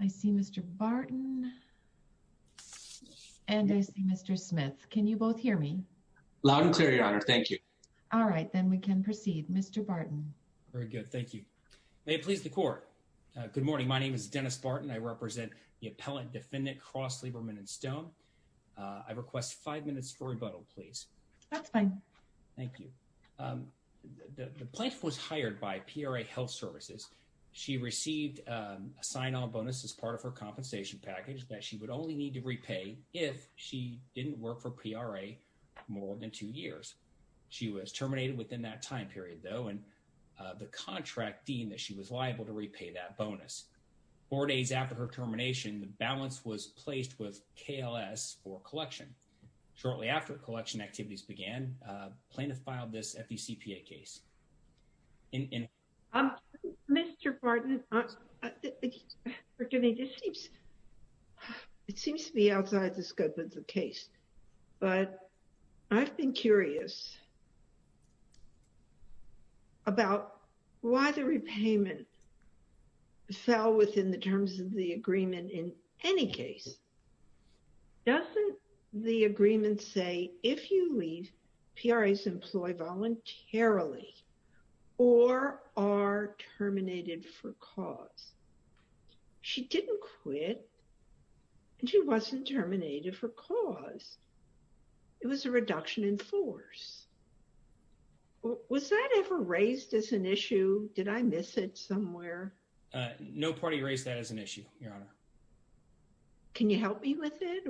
I see Mr. Barton and I see Mr. Smith. Can you both hear me? Loud and clear, Your Honor. Thank you. All right, then we can proceed. Mr. Barton. Very good. Thank you. May it please the Court. Good morning. My name is Dennis Barton. I represent the appellate defendant, Kross, Lieberman & Stone. I request five minutes for rebuttal, please. That's fine. Thank you. The plaintiff was hired by PRA Health Services. She received a sign-on bonus as part of her compensation package that she would only need to repay if she didn't work for PRA more than two years. She was terminated within that time period, though, and the contract deemed that she was liable to repay that bonus. Four days after her termination, the balance was placed with KLS for collection. Shortly after collection activities began, plaintiff filed this FECPA case. Mr. Barton, forgive me, this seems to be outside the scope of the case, but I've been curious about why the repayment fell within the terms of the agreement in any case. Doesn't the agreement say if you leave, PRAs employ voluntarily or are terminated for cause? She didn't quit, and she wasn't terminated for cause. It was a reduction in force. Was that ever raised as an issue? Did I miss it somewhere? No party raised that as an issue, Your Honor. Can you help me with it?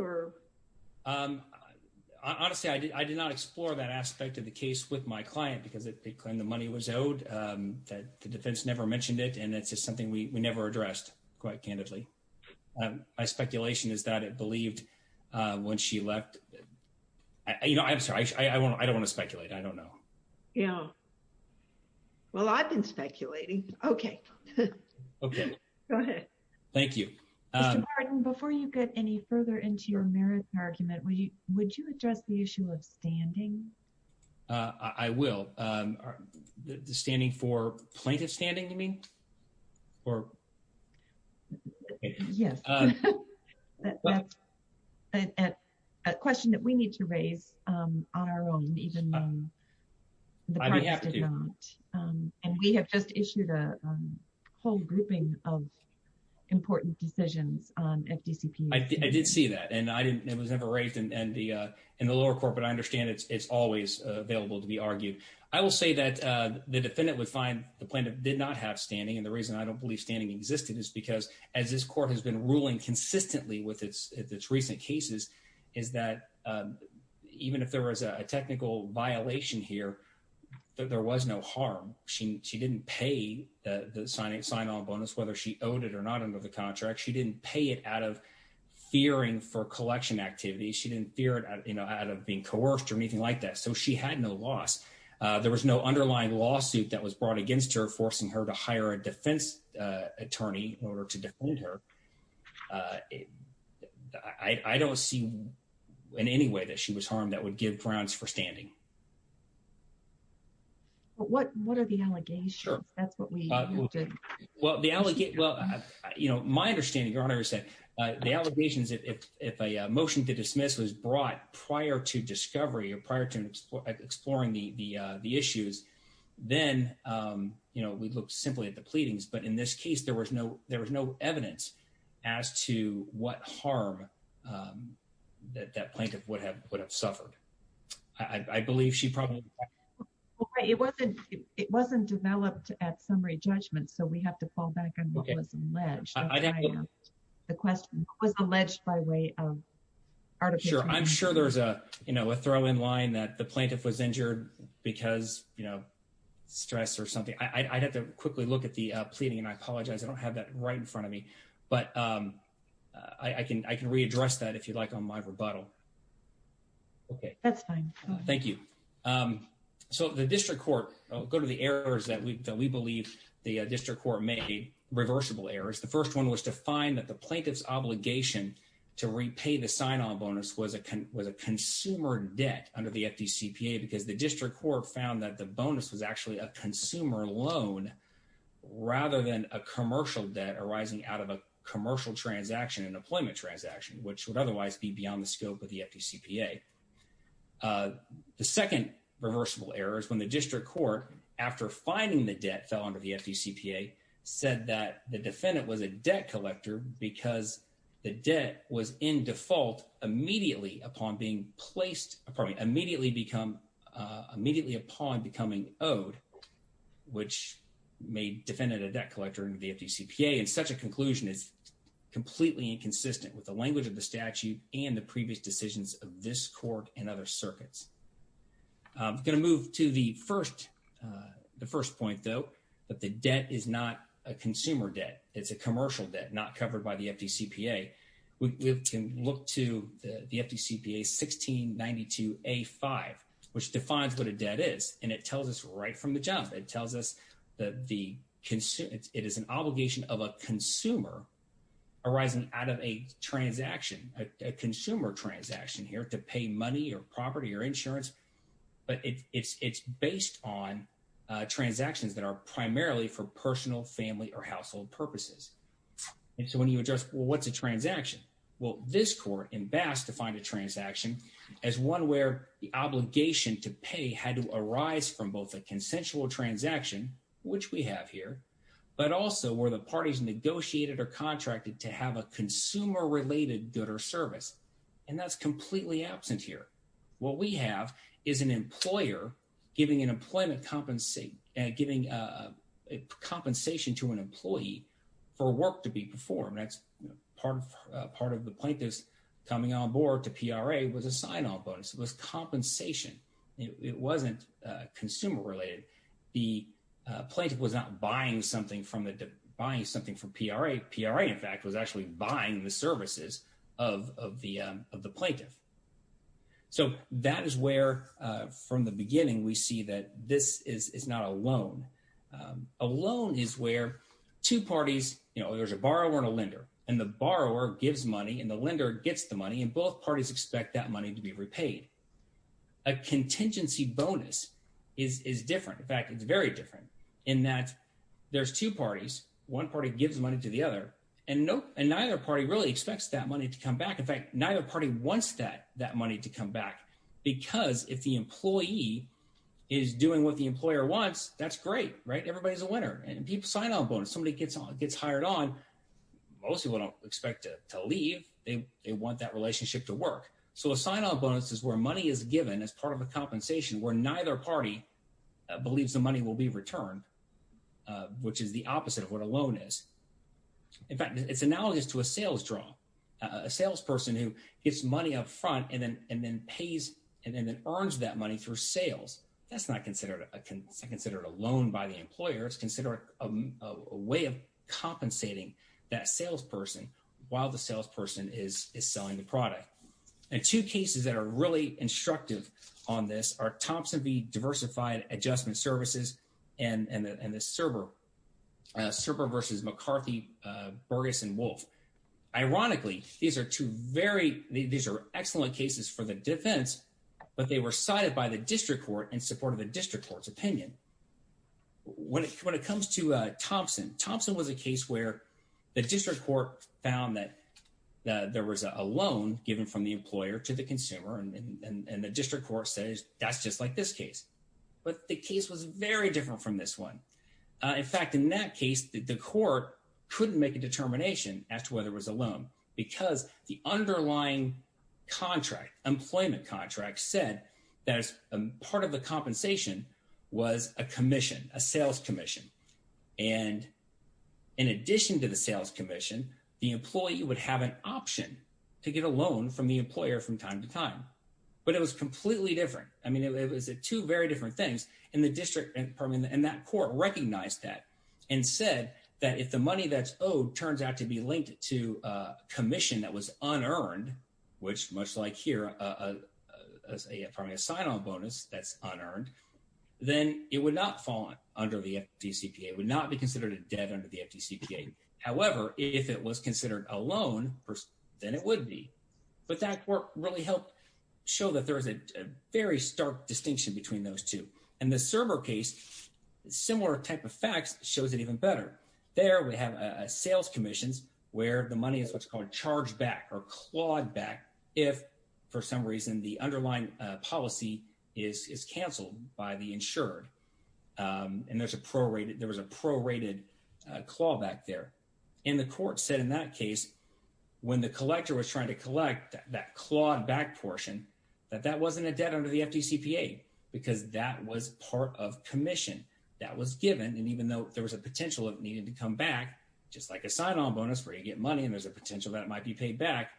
Honestly, I did not explore that aspect of the case with my client because it claimed the money was owed. The defense never mentioned it, and it's just something we never addressed quite candidly. My speculation is that it believed when she left. I'm sorry, I don't want to speculate. I don't know. Yeah. Well, I've been speculating. Okay. Okay. Go ahead. Thank you. Mr. Barton, before you get any further into your merit argument, would you address the issue of standing? I will. The standing for plaintiff standing, you mean? Yes. That's a question that we need to raise on our own, even though the parties did not. And we have just issued a whole grouping of important decisions on FDCP. I did see that, and it was never raised in the lower court, but I understand it's always available to be argued. I will say that the defendant would find the plaintiff did not have standing, and the reason I don't believe standing existed is because, as this court has been ruling consistently with its recent cases, is that even if there was a technical violation here, there was no harm. She didn't pay the sign-on bonus, whether she owed it or not under the contract. She didn't pay it out of fearing for collection activity. She didn't fear it out of being coerced or anything like that, so she had no loss. There was no underlying lawsuit that was brought against her, forcing her to hire a defense attorney in order to defend her. I don't see in any way that she was harmed that would give grounds for standing. What are the allegations? Well, my understanding, Your Honor, is that the allegations, if a motion to dismiss was brought prior to discovery or prior to exploring the issues, then we look simply at the pleadings. But in this case, there was no evidence as to what harm that plaintiff would have suffered. I believe she probably— It wasn't developed at summary judgment, so we have to fall back on what was alleged. The question, what was alleged by way of artificial— Sure. I'm sure there's a throw-in line that the plaintiff was injured because, you know, stress or something. I'd have to quickly look at the pleading, and I apologize. I don't have that right in front of me. But I can readdress that, if you'd like, on my rebuttal. Okay. That's fine. Thank you. So the district court—I'll go to the errors that we believe the district court made, reversible errors. The first one was to find that the plaintiff's obligation to repay the sign-on bonus was a consumer debt under the FDCPA because the district court found that the bonus was actually a consumer loan rather than a commercial debt arising out of a commercial transaction, an employment transaction, which would otherwise be beyond the scope of the FDCPA. The second reversible error is when the district court, after finding the debt fell under the FDCPA, said that the defendant was a debt collector because the debt was in default immediately upon being placed—immediately upon becoming owed, which made the defendant a debt collector under the FDCPA. The FDCPA, in such a conclusion, is completely inconsistent with the language of the statute and the previous decisions of this court and other circuits. I'm going to move to the first point, though, that the debt is not a consumer debt. It's a commercial debt not covered by the FDCPA. The FDCPA is not a debt collector. It's a consumer debt. It's a debt collector. And so when you address, well, what's a transaction? Well, this court in Bass defined a transaction as one where the obligation to pay had to arise from both a consensual transaction, which we have here, but also where the parties negotiated or contracted to have a consumer-related good or service. And that's completely absent here. What we have is an employer giving an employment—giving compensation to an employee for work to be performed. That's part of the plaintiff's coming on board to PRA was a sign-off bonus. It was compensation. It wasn't consumer-related. The plaintiff was not buying something from the—buying something from PRA. PRA, in fact, was actually buying the services of the plaintiff. So that is where, from the beginning, we see that this is not a loan. A loan is where two parties—you know, there's a borrower and a lender, and the borrower gives money and the lender gets the money, and both parties expect that money to be repaid. A contingency bonus is different. In fact, it's very different in that there's two parties. One party gives money to the other, and neither party really expects that money to come back. In fact, neither party wants that money to come back because if the employee is doing what the employer wants, that's great, right? Everybody's a winner. And people sign-off bonus. Somebody gets hired on. Most people don't expect to leave. They want that relationship to work. So a sign-off bonus is where money is given as part of a compensation where neither party believes the money will be returned, which is the opposite of what a loan is. In fact, it's analogous to a sales draw, a salesperson who gets money up front and then pays and then earns that money through sales. That's not considered a loan by the employer. It's considered a way of compensating that salesperson while the salesperson is selling the product. And two cases that are really instructive on this are Thompson v. Diversified Adjustment Services and the Cerber versus McCarthy, Burgess, and Wolfe. Ironically, these are two very – these are excellent cases for the defense, but they were cited by the district court in support of the district court's opinion. When it comes to Thompson, Thompson was a case where the district court found that there was a loan given from the employer to the consumer, and the district court says that's just like this case. But the case was very different from this one. In fact, in that case, the court couldn't make a determination as to whether it was a loan because the underlying contract, employment contract, said that part of the compensation was a commission, a sales commission. And in addition to the sales commission, the employee would have an option to get a loan from the employer from time to time. But it was completely different. I mean, it was two very different things. And the district – and that court recognized that and said that if the money that's owed turns out to be linked to a commission that was unearned, which much like here is probably a sign-on bonus that's unearned, then it would not fall under the FDCPA. It would not be considered a debt under the FDCPA. However, if it was considered a loan, then it would be. But that court really helped show that there is a very stark distinction between those two. In the server case, similar type of facts shows it even better. There we have sales commissions where the money is what's called charged back or clawed back if, for some reason, the underlying policy is canceled by the insured. And there's a prorated – there was a prorated claw back there. And the court said in that case when the collector was trying to collect that clawed back portion that that wasn't a debt under the FDCPA because that was part of commission. That was given. And even though there was a potential of it needing to come back, just like a sign-on bonus where you get money and there's a potential that it might be paid back,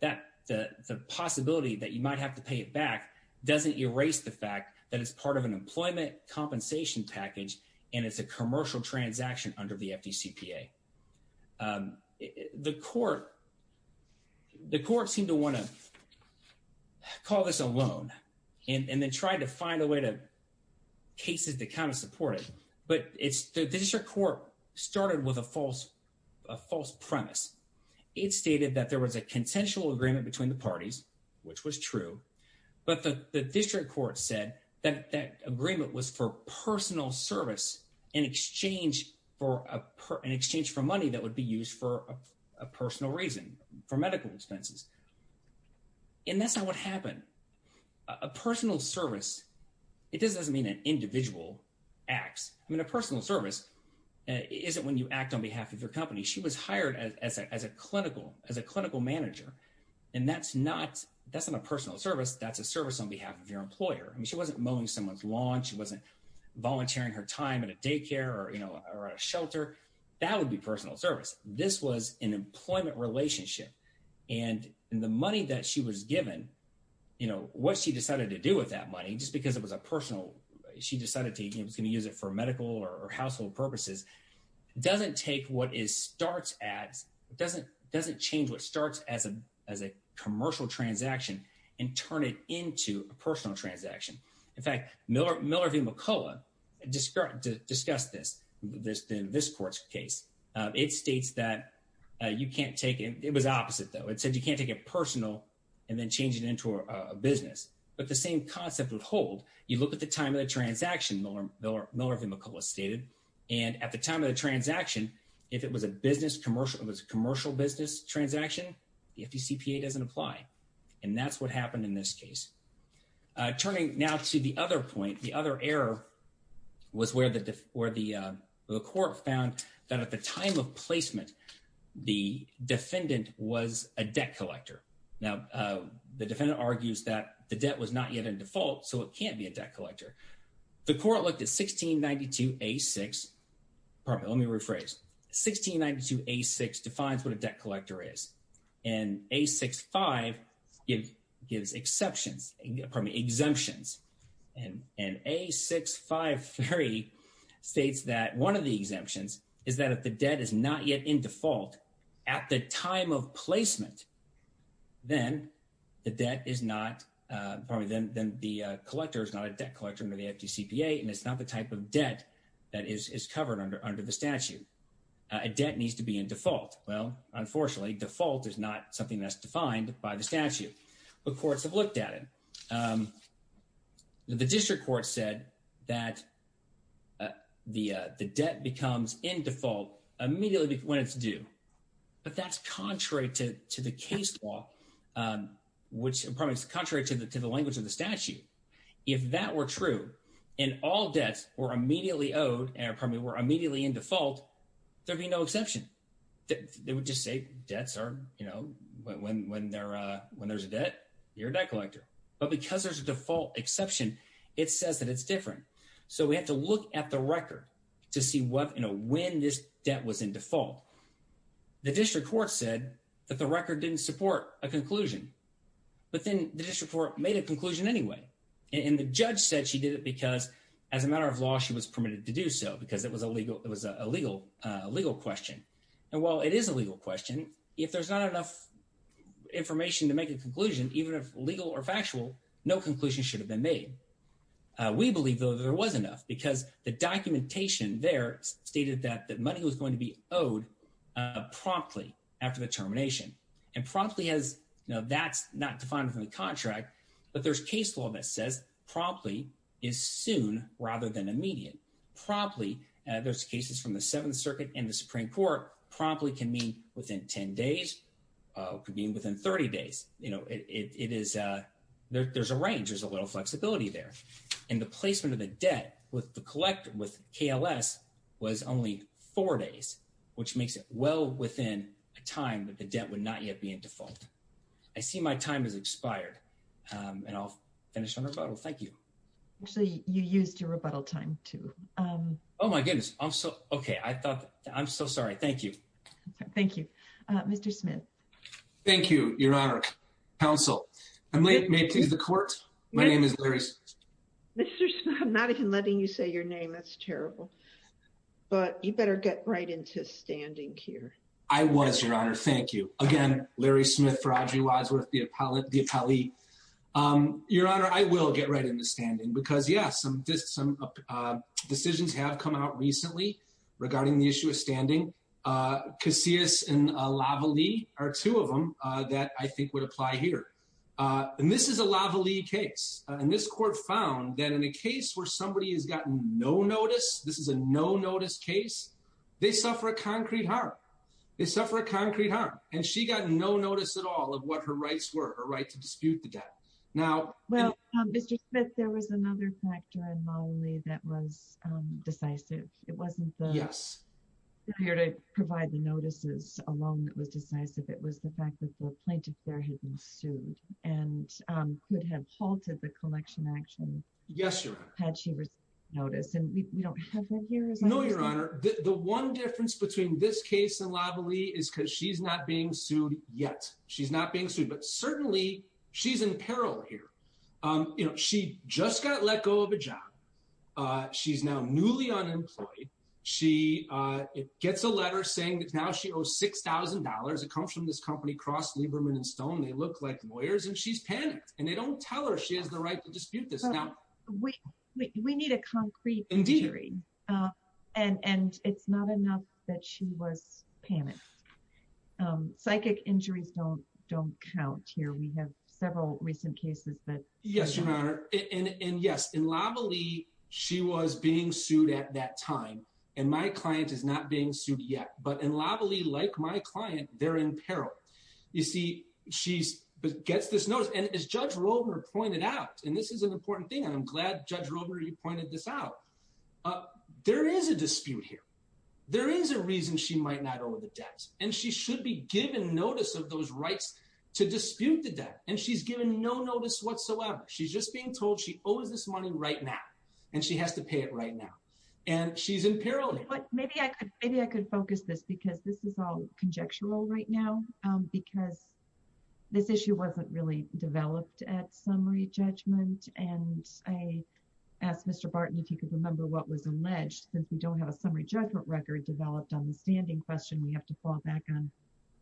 the possibility that you might have to pay it back doesn't erase the fact that it's part of an employment compensation package and it's a commercial transaction under the FDCPA. The court seemed to want to call this a loan and then tried to find a way to – cases that kind of support it. But the district court started with a false premise. It stated that there was a consensual agreement between the parties, which was true, but the district court said that that agreement was for personal service in exchange for money that would be used for a personal reason, for medical expenses. And that's not what happened. A personal service – it just doesn't mean an individual acts. I mean a personal service isn't when you act on behalf of your company. She was hired as a clinical manager, and that's not a personal service. That's a service on behalf of your employer. I mean she wasn't mowing someone's lawn. She wasn't volunteering her time at a daycare or at a shelter. That would be personal service. This was an employment relationship. And the money that she was given, what she decided to do with that money, just because it was a personal – she decided to use it for medical or household purposes, doesn't take what starts as – doesn't change what starts as a commercial transaction and turn it into a personal transaction. In fact, Miller v. McCullough discussed this in this court's case. It states that you can't take – it was opposite, though. It said you can't take it personal and then change it into a business. But the same concept would hold. You look at the time of the transaction, Miller v. McCullough stated, and at the time of the transaction, if it was a commercial business transaction, the FDCPA doesn't apply. And that's what happened in this case. Turning now to the other point, the other error was where the court found that at the time of placement, the defendant was a debt collector. Now, the defendant argues that the debt was not yet in default, so it can't be a debt collector. The court looked at 1692A6. Let me rephrase. 1692A6 defines what a debt collector is. And A65 gives exceptions – pardon me, exemptions. And A653 states that one of the exemptions is that if the debt is not yet in default at the time of placement, then the debt is not – pardon me, then the collector is not a debt collector under the FDCPA, and it's not the type of debt that is covered under the statute. A debt needs to be in default. Well, unfortunately, default is not something that's defined by the statute. But courts have looked at it. The district court said that the debt becomes in default immediately when it's due. But that's contrary to the case law, which – pardon me, it's contrary to the language of the statute. If that were true and all debts were immediately owed – pardon me, were immediately in default, there would be no exception. They would just say debts are – when there's a debt, you're a debt collector. But because there's a default exception, it says that it's different. So we have to look at the record to see when this debt was in default. The district court said that the record didn't support a conclusion, but then the district court made a conclusion anyway. And the judge said she did it because as a matter of law, she was permitted to do so because it was a legal question. And while it is a legal question, if there's not enough information to make a conclusion, even if legal or factual, no conclusion should have been made. We believe, though, that there was enough because the documentation there stated that the money was going to be owed promptly after the termination. And promptly has – that's not defined in the contract, but there's case law that says promptly is soon rather than immediate. Promptly – there's cases from the Seventh Circuit and the Supreme Court – promptly can mean within 10 days, could mean within 30 days. You know, it is – there's a range. There's a little flexibility there. And the placement of the debt with the – with KLS was only four days, which makes it well within a time that the debt would not yet be in default. I see my time has expired, and I'll finish my rebuttal. Thank you. Actually, you used your rebuttal time, too. Oh, my goodness. I'm so – okay. I thought – I'm so sorry. Thank you. Thank you. Mr. Smith. Thank you, Your Honor. Counsel, may I please the court? My name is Larry – Mr. Smith, I'm not even letting you say your name. That's terrible. But you better get right into standing here. I was, Your Honor. Thank you. Again, Larry Smith for Audrey Wadsworth, the appellee. Your Honor, I will get right into standing because, yes, some decisions have come out recently regarding the issue of standing. Casillas and Lavallee are two of them that I think would apply here. And this is a Lavallee case. And this court found that in a case where somebody has gotten no notice – this is a no-notice case – they suffer a concrete harm. They suffer a concrete harm. And she got no notice at all of what her rights were, her right to dispute the debt. Now – Well, Mr. Smith, there was another factor in Lavallee that was decisive. It wasn't the – Yes. – here to provide the notices alone that was decisive. It was the fact that the plaintiff there had been sued and could have halted the collection action – Yes, Your Honor. – had she received notice. And we don't have that here, is that what you're saying? No, Your Honor. The one difference between this case and Lavallee is because she's not being sued yet. She's not being sued. But certainly, she's in peril here. You know, she just got let go of a job. She's now newly unemployed. She gets a letter saying that now she owes $6,000. It comes from this company Cross, Lieberman, and Stone. They look like lawyers. And she's panicked. And they don't tell her she has the right to dispute this. Now – We need a concrete hearing. Indeed. And it's not enough that she was panicked. Psychic injuries don't count here. We have several recent cases that – Yes, Your Honor. And, yes, in Lavallee, she was being sued at that time. And my client is not being sued yet. But in Lavallee, like my client, they're in peril. You see, she gets this notice. And as Judge Roeber pointed out – and this is an important thing, and I'm glad Judge Roeber pointed this out – there is a dispute here. There is a reason she might not owe the debt. And she should be given notice of those rights to dispute the debt. And she's given no notice whatsoever. She's just being told she owes this money right now. And she has to pay it right now. And she's in peril. But maybe I could focus this, because this is all conjectural right now, because this issue wasn't really developed at summary judgment. And I asked Mr. Barton if he could remember what was alleged. Since we don't have a summary judgment record developed on the standing question, we have to fall back on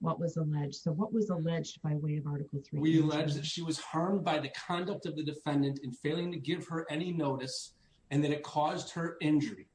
what was alleged. So what was alleged by way of Article 3? We allege that she was harmed by the conduct of the defendant in failing to give her any notice, and that it caused her injury.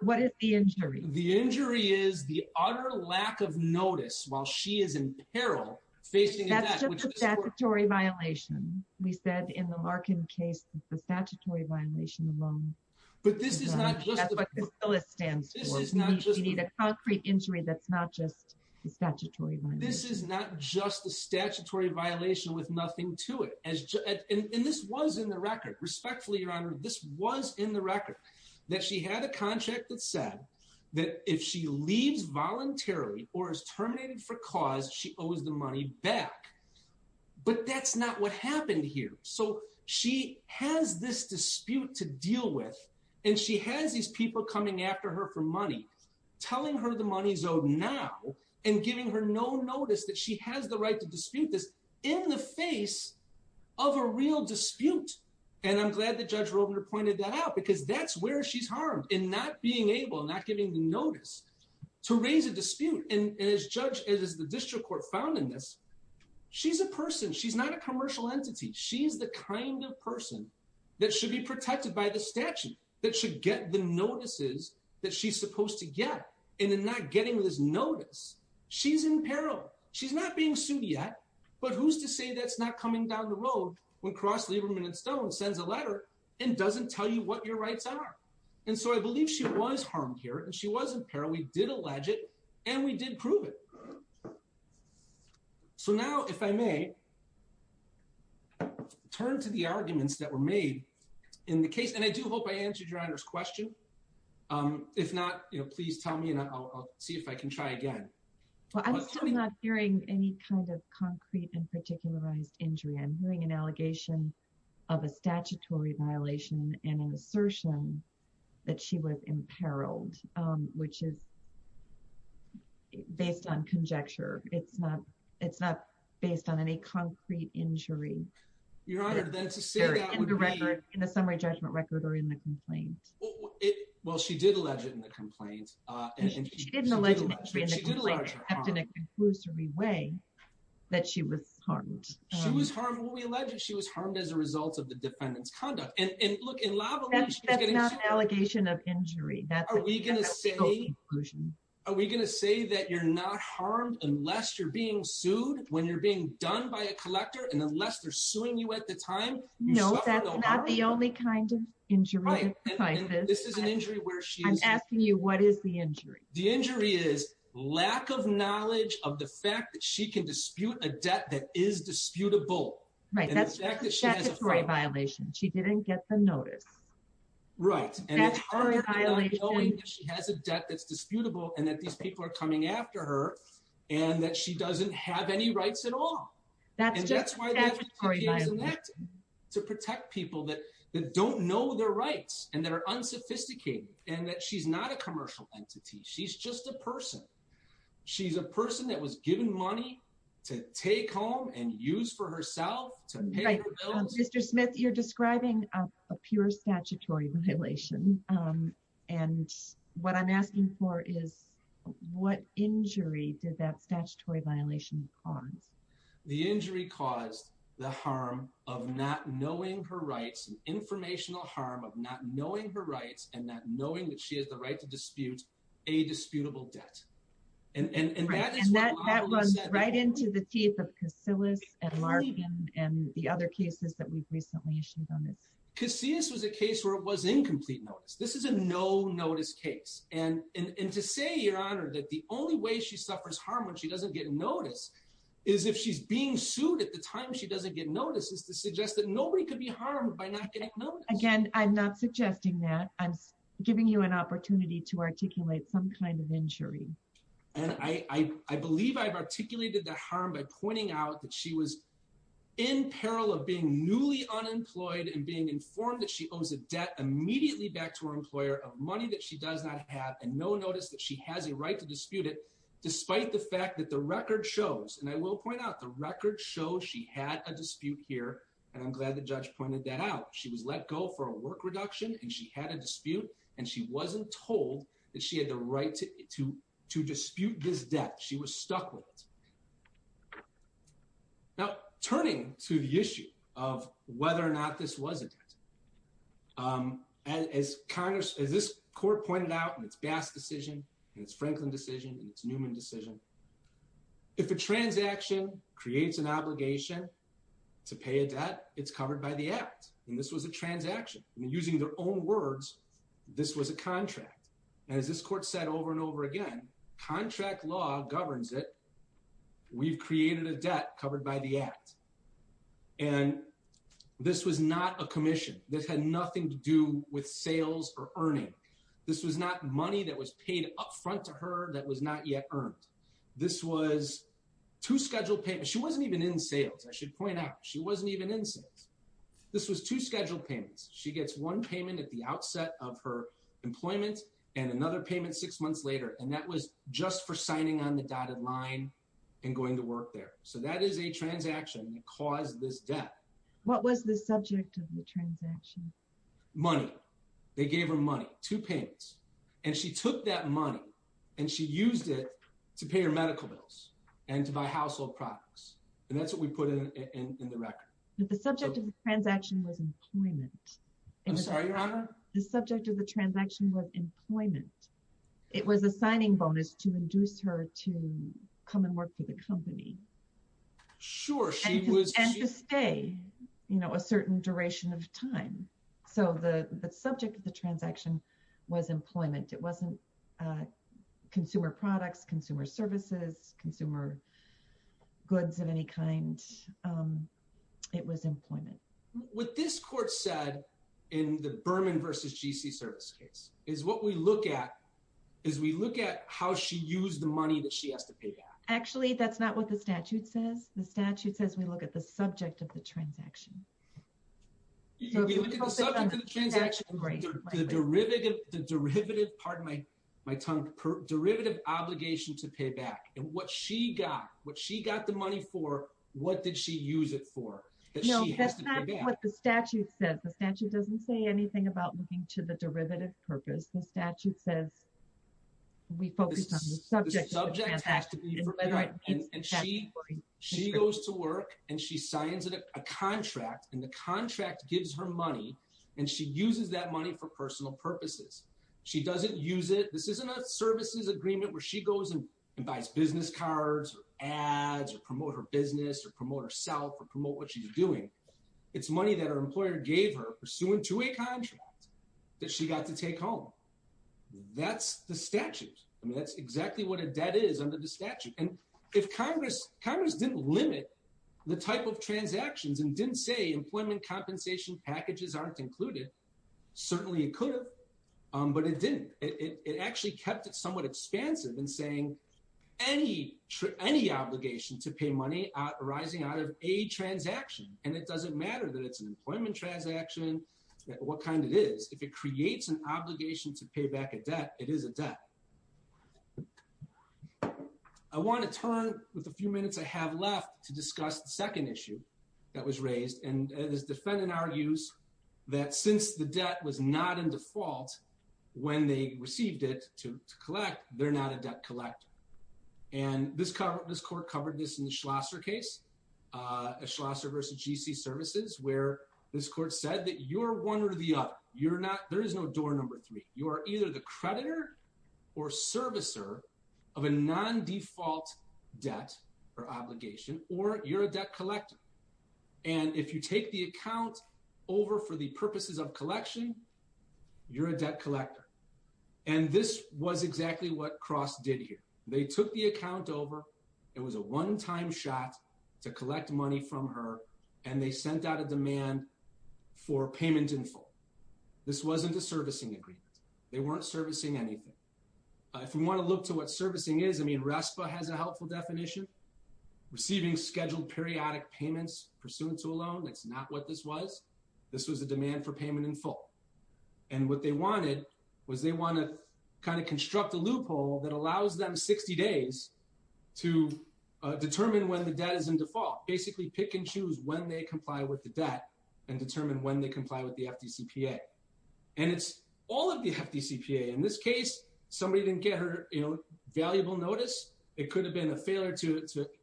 What is the injury? The injury is the utter lack of notice while she is in peril, facing a debt. That's just a statutory violation. We said in the Larkin case that the statutory violation alone. But this is not just – That's what the bill stands for. We need a concrete injury that's not just a statutory violation. This is not just a statutory violation with nothing to it. And this was in the record. Respectfully, Your Honor, this was in the record, that she had a contract that said that if she leaves voluntarily or is terminated for cause, she owes the money back. But that's not what happened here. So she has this dispute to deal with, and she has these people coming after her for money, telling her the money is owed now and giving her no notice that she has the right to dispute this in the face of a real dispute. And I'm glad that Judge Robner pointed that out because that's where she's harmed in not being able, not giving the notice to raise a dispute. And as the district court found in this, she's a person. She's not a commercial entity. She's the kind of person that should be protected by the statute, that should get the notices that she's supposed to get. And in not getting this notice, she's in peril. She's not being sued yet, but who's to say that's not coming down the road when Cross, Lieberman, and Stone sends a letter and doesn't tell you what your rights are? And so I believe she was harmed here, and she was in peril. We did allege it, and we did prove it. So now, if I may, turn to the arguments that were made in the case, and I do hope I answered Your Honor's question. If not, please tell me, and I'll see if I can try again. Well, I'm still not hearing any kind of concrete and particularized injury. I'm hearing an allegation of a statutory violation and an assertion that she was imperiled, which is based on conjecture. It's not based on any concrete injury. Your Honor, then to say that would be in the summary judgment record or in the complaint. Well, she did allege it in the complaint. She didn't allege an injury in the complaint, except in a conclusory way that she was harmed. She was harmed. Well, we allege that she was harmed as a result of the defendant's conduct. And look, in lavalier, she was getting sued. That's not an allegation of injury. Are we going to say that you're not harmed unless you're being sued when you're being done by a collector and unless they're suing you at the time? No, that's not the only kind of injury. This is an injury where she's... I'm asking you, what is the injury? The injury is lack of knowledge of the fact that she can dispute a debt that is disputable. Right, that's a statutory violation. She didn't get the notice. Right. That's a statutory violation. She has a debt that's disputable and that these people are coming after her and that she doesn't have any rights at all. That's just a statutory violation. To protect people that don't know their rights and that are unsophisticated and that she's not a commercial entity. She's just a person. She's a person that was given money to take home and use for herself to pay her bills. Right. Mr. Smith, you're describing a pure statutory violation. And what I'm asking for is what injury did that statutory violation cause? The injury caused the harm of not knowing her rights. Informational harm of not knowing her rights and not knowing that she has the right to dispute a disputable debt. And that is why... Right, and that runs right into the teeth of Casillas and Larson and the other cases that we've recently issued on this. Casillas was a case where it was incomplete notice. This is a no-notice case. And to say, Your Honor, that the only way she suffers harm when she doesn't get notice is if she's being sued at the time she doesn't get notice is to suggest that nobody could be harmed by not getting notice. Again, I'm not suggesting that. I'm giving you an opportunity to articulate some kind of injury. And I believe I've articulated the harm by pointing out that she was in peril of being newly unemployed and being informed that she owes a debt immediately back to her employer of money that she does not have and no notice that she has a right to dispute it despite the fact that the record shows, and I will point out, the record shows she had a dispute here. And I'm glad the judge pointed that out. She was let go for a work reduction and she had a dispute and she wasn't told that she had the right to dispute this debt. She was stuck with it. Now, turning to the issue of whether or not this was a debt, as this court pointed out in its Bass decision, and its Franklin decision, and its Newman decision, if a transaction creates an obligation to pay a debt, it's covered by the act. And this was a transaction. And using their own words, this was a contract. And as this court said over and over again, contract law governs it. We've created a debt covered by the act. And this was not a commission. This had nothing to do with sales or earning. This was not money that was paid up front to her that was not yet earned. This was two scheduled payments. She wasn't even in sales. I should point out, she wasn't even in sales. This was two scheduled payments. She gets one payment at the outset of her employment and another payment six months later. And that was just for signing on the dotted line and going to work there. So that is a transaction that caused this debt. What was the subject of the transaction? Money. They gave her money. Two payments. And she took that money and she used it to pay her medical bills and to buy household products. And that's what we put in the record. But the subject of the transaction was employment. I'm sorry, Your Honor? The subject of the transaction was employment. It was a signing bonus to induce her to come and work for the company. Sure, she was- And to stay a certain duration of time. So the subject of the transaction was employment. It wasn't consumer products, consumer services, consumer goods of any kind. It was employment. What this court said in the Berman v. G.C. service case is what we look at is we look at how she used the money that she has to pay back. Actually, that's not what the statute says. The statute says we look at the subject of the transaction. We look at the subject of the transaction and the derivative, pardon my tongue, derivative obligation to pay back. And what she got, what she got the money for, what did she use it for? That she has to pay back. No, that's not what the statute says. The statute doesn't say anything about looking to the derivative purpose. The statute says we focus on the subject of the transaction. The subject has to be for payback. And she goes to work and she signs a contract and the contract gives her money and she uses that money for personal purposes. She doesn't use it. This isn't a services agreement where she goes and buys business cards or ads or promote her business or promote herself or promote what she's doing. It's money that her employer gave her pursuant to a contract that she got to take home. That's the statute. I mean, that's exactly what a debt is under the statute. And if Congress didn't limit the type of transactions and didn't say employment compensation packages aren't included, certainly it could have, but it didn't. It actually kept it somewhat expansive in saying any obligation to pay money arising out of a transaction. And it doesn't matter that it's an employment transaction, what kind it is. If it creates an obligation to pay back a debt, it is a debt. I want to turn with a few minutes I have left to discuss the second issue that was raised. And this defendant argues that since the debt was not in default when they received it to collect, they're not a debt collector. And this court covered this in the Schlosser case, a Schlosser versus GC services where this court said that you're one or the other. There is no door number three. You are either the creditor or servicer of a non-default debt or obligation or you're a debt collector. And if you take the account over for the purposes of collection, you're a debt collector. And this was exactly what Cross did here. They took the account over. It was a one-time shot to collect money from her. And they sent out a demand for payment in full. This wasn't a servicing agreement. They weren't servicing anything. If you want to look to what servicing is, I mean, RESPA has a helpful definition, receiving scheduled periodic payments pursuant to a loan. That's not what this was. This was a demand for payment in full. And what they wanted was they want to kind of construct a loophole that allows them 60 days to determine when the debt is in default, basically pick and choose when they comply with the debt and determine when they comply with the FDCPA. And it's all of the FDCPA. In this case, somebody didn't get her, you know, valuable notice. It could have been a failure to...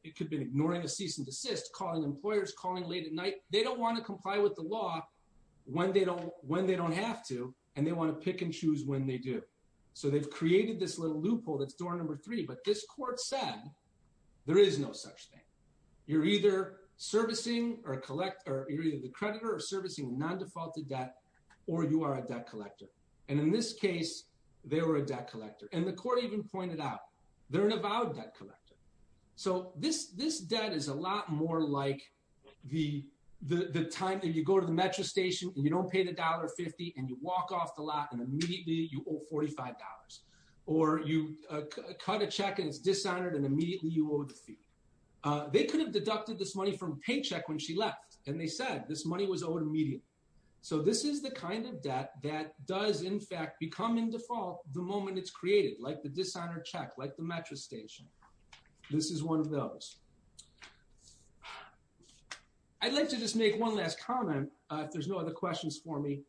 It could have been ignoring a cease and desist, calling employers, calling late at night. They don't want to comply with the law when they don't have to, and they want to pick and choose when they do. So they've created this little loophole. That's door number three. But this court said there is no such thing. You're either servicing or collect... You're either the creditor or servicing non-defaulted debt, or you are a debt collector. And in this case, they were a debt collector. And the court even pointed out, they're an avowed debt collector. So this debt is a lot more like the time that you go to the metro station and you don't pay the $1.50 and you walk off the lot and immediately you owe $45. Or you cut a check and it's dishonored and immediately you owe the fee. They could have deducted this money from a paycheck when she left. And they said this money was owed immediately. So this is the kind of debt that does in fact become in default the moment it's created, like the dishonored check, like the metro station. This is one of those. I'd like to just make one last comment if there's no other questions for me.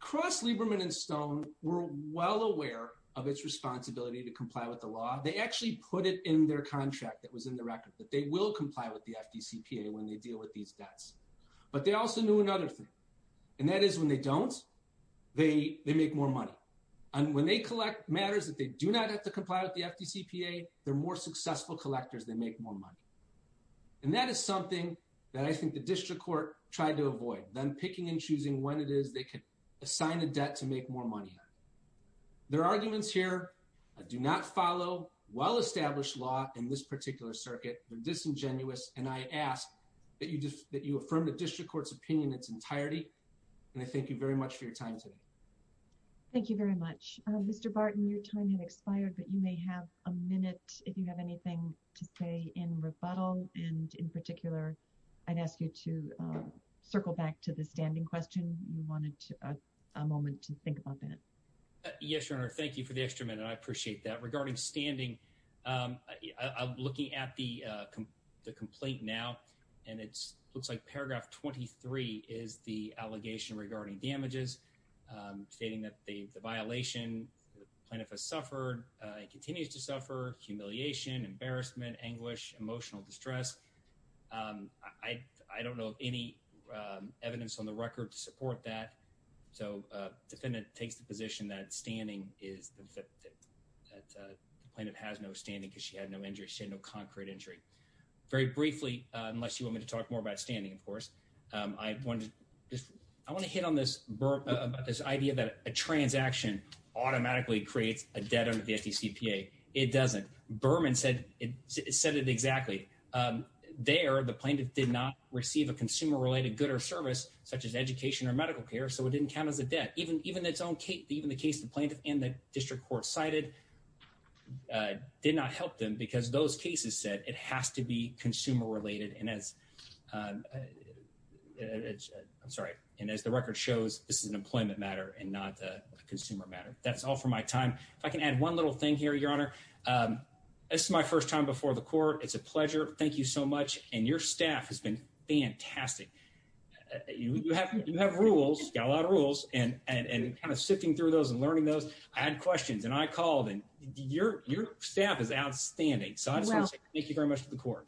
Cross, Lieberman, and Stone were well aware of its responsibility to comply with the law. They actually put it in their contract that was in the record, that they will comply with the FDCPA when they deal with these debts. But they also knew another thing. And that is when they don't, they make more money. And when they collect matters that they do not have to comply with the FDCPA, they're more successful collectors, they make more money. And that is something that I think the district court tried to avoid. Them picking and choosing when it is they can assign a debt to make more money. Their arguments here do not follow well-established law in this particular circuit. They're disingenuous. And I ask that you affirm the district court's opinion in its entirety. And I thank you very much for your time today. Thank you very much. Mr. Barton, your time has expired, but you may have a minute if you have anything to say in rebuttal. And in particular, I'd ask you to circle back to the standing question. You wanted a moment to think about that. Yes, Your Honor. Thank you for the extra minute. I appreciate that. Regarding standing, I'm looking at the complaint now. And it looks like paragraph 23 is the allegation regarding damages, stating that the violation, the plaintiff has suffered, continues to suffer, humiliation, embarrassment, anguish, emotional distress. I don't know of any evidence on the record to support that. So the defendant takes the position that the plaintiff has no standing because she had no injury. She had no concrete injury. Very briefly, unless you want me to talk more about standing, of course, I want to hit on this idea that a transaction automatically creates a debt under the FDCPA. It doesn't. Berman said it exactly. There, the plaintiff did not receive a consumer-related good or service, such as education or medical care, so it didn't count as a debt. Even the case the plaintiff and the district court cited did not help them because those cases said it has to be consumer-related. And as the record shows, this is an employment matter and not a consumer matter. That's all for my time. If I can add one little thing here, Your Honor. This is my first time before the court. It's a pleasure. Thank you so much. And your staff has been fantastic. You have rules, got a lot of rules, and kind of sifting through those and learning those. I had questions, and I called, and your staff is outstanding. So I just want to say thank you very much to the court.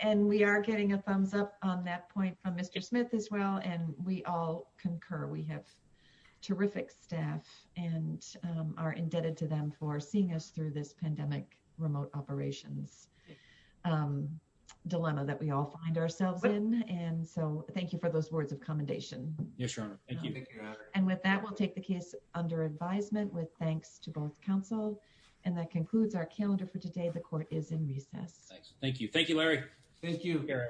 And we are getting a thumbs-up on that point from Mr. Smith as well, and we all concur. We have terrific staff and are indebted to them for seeing us through this pandemic remote operations dilemma that we all find ourselves in. And so thank you for those words of commendation. Yes, Your Honor. Thank you. And with that, we'll take the case under advisement with thanks to both counsel. And that concludes our calendar for today. The court is in recess. Thanks. Thank you, Larry. Thank you, Garrett.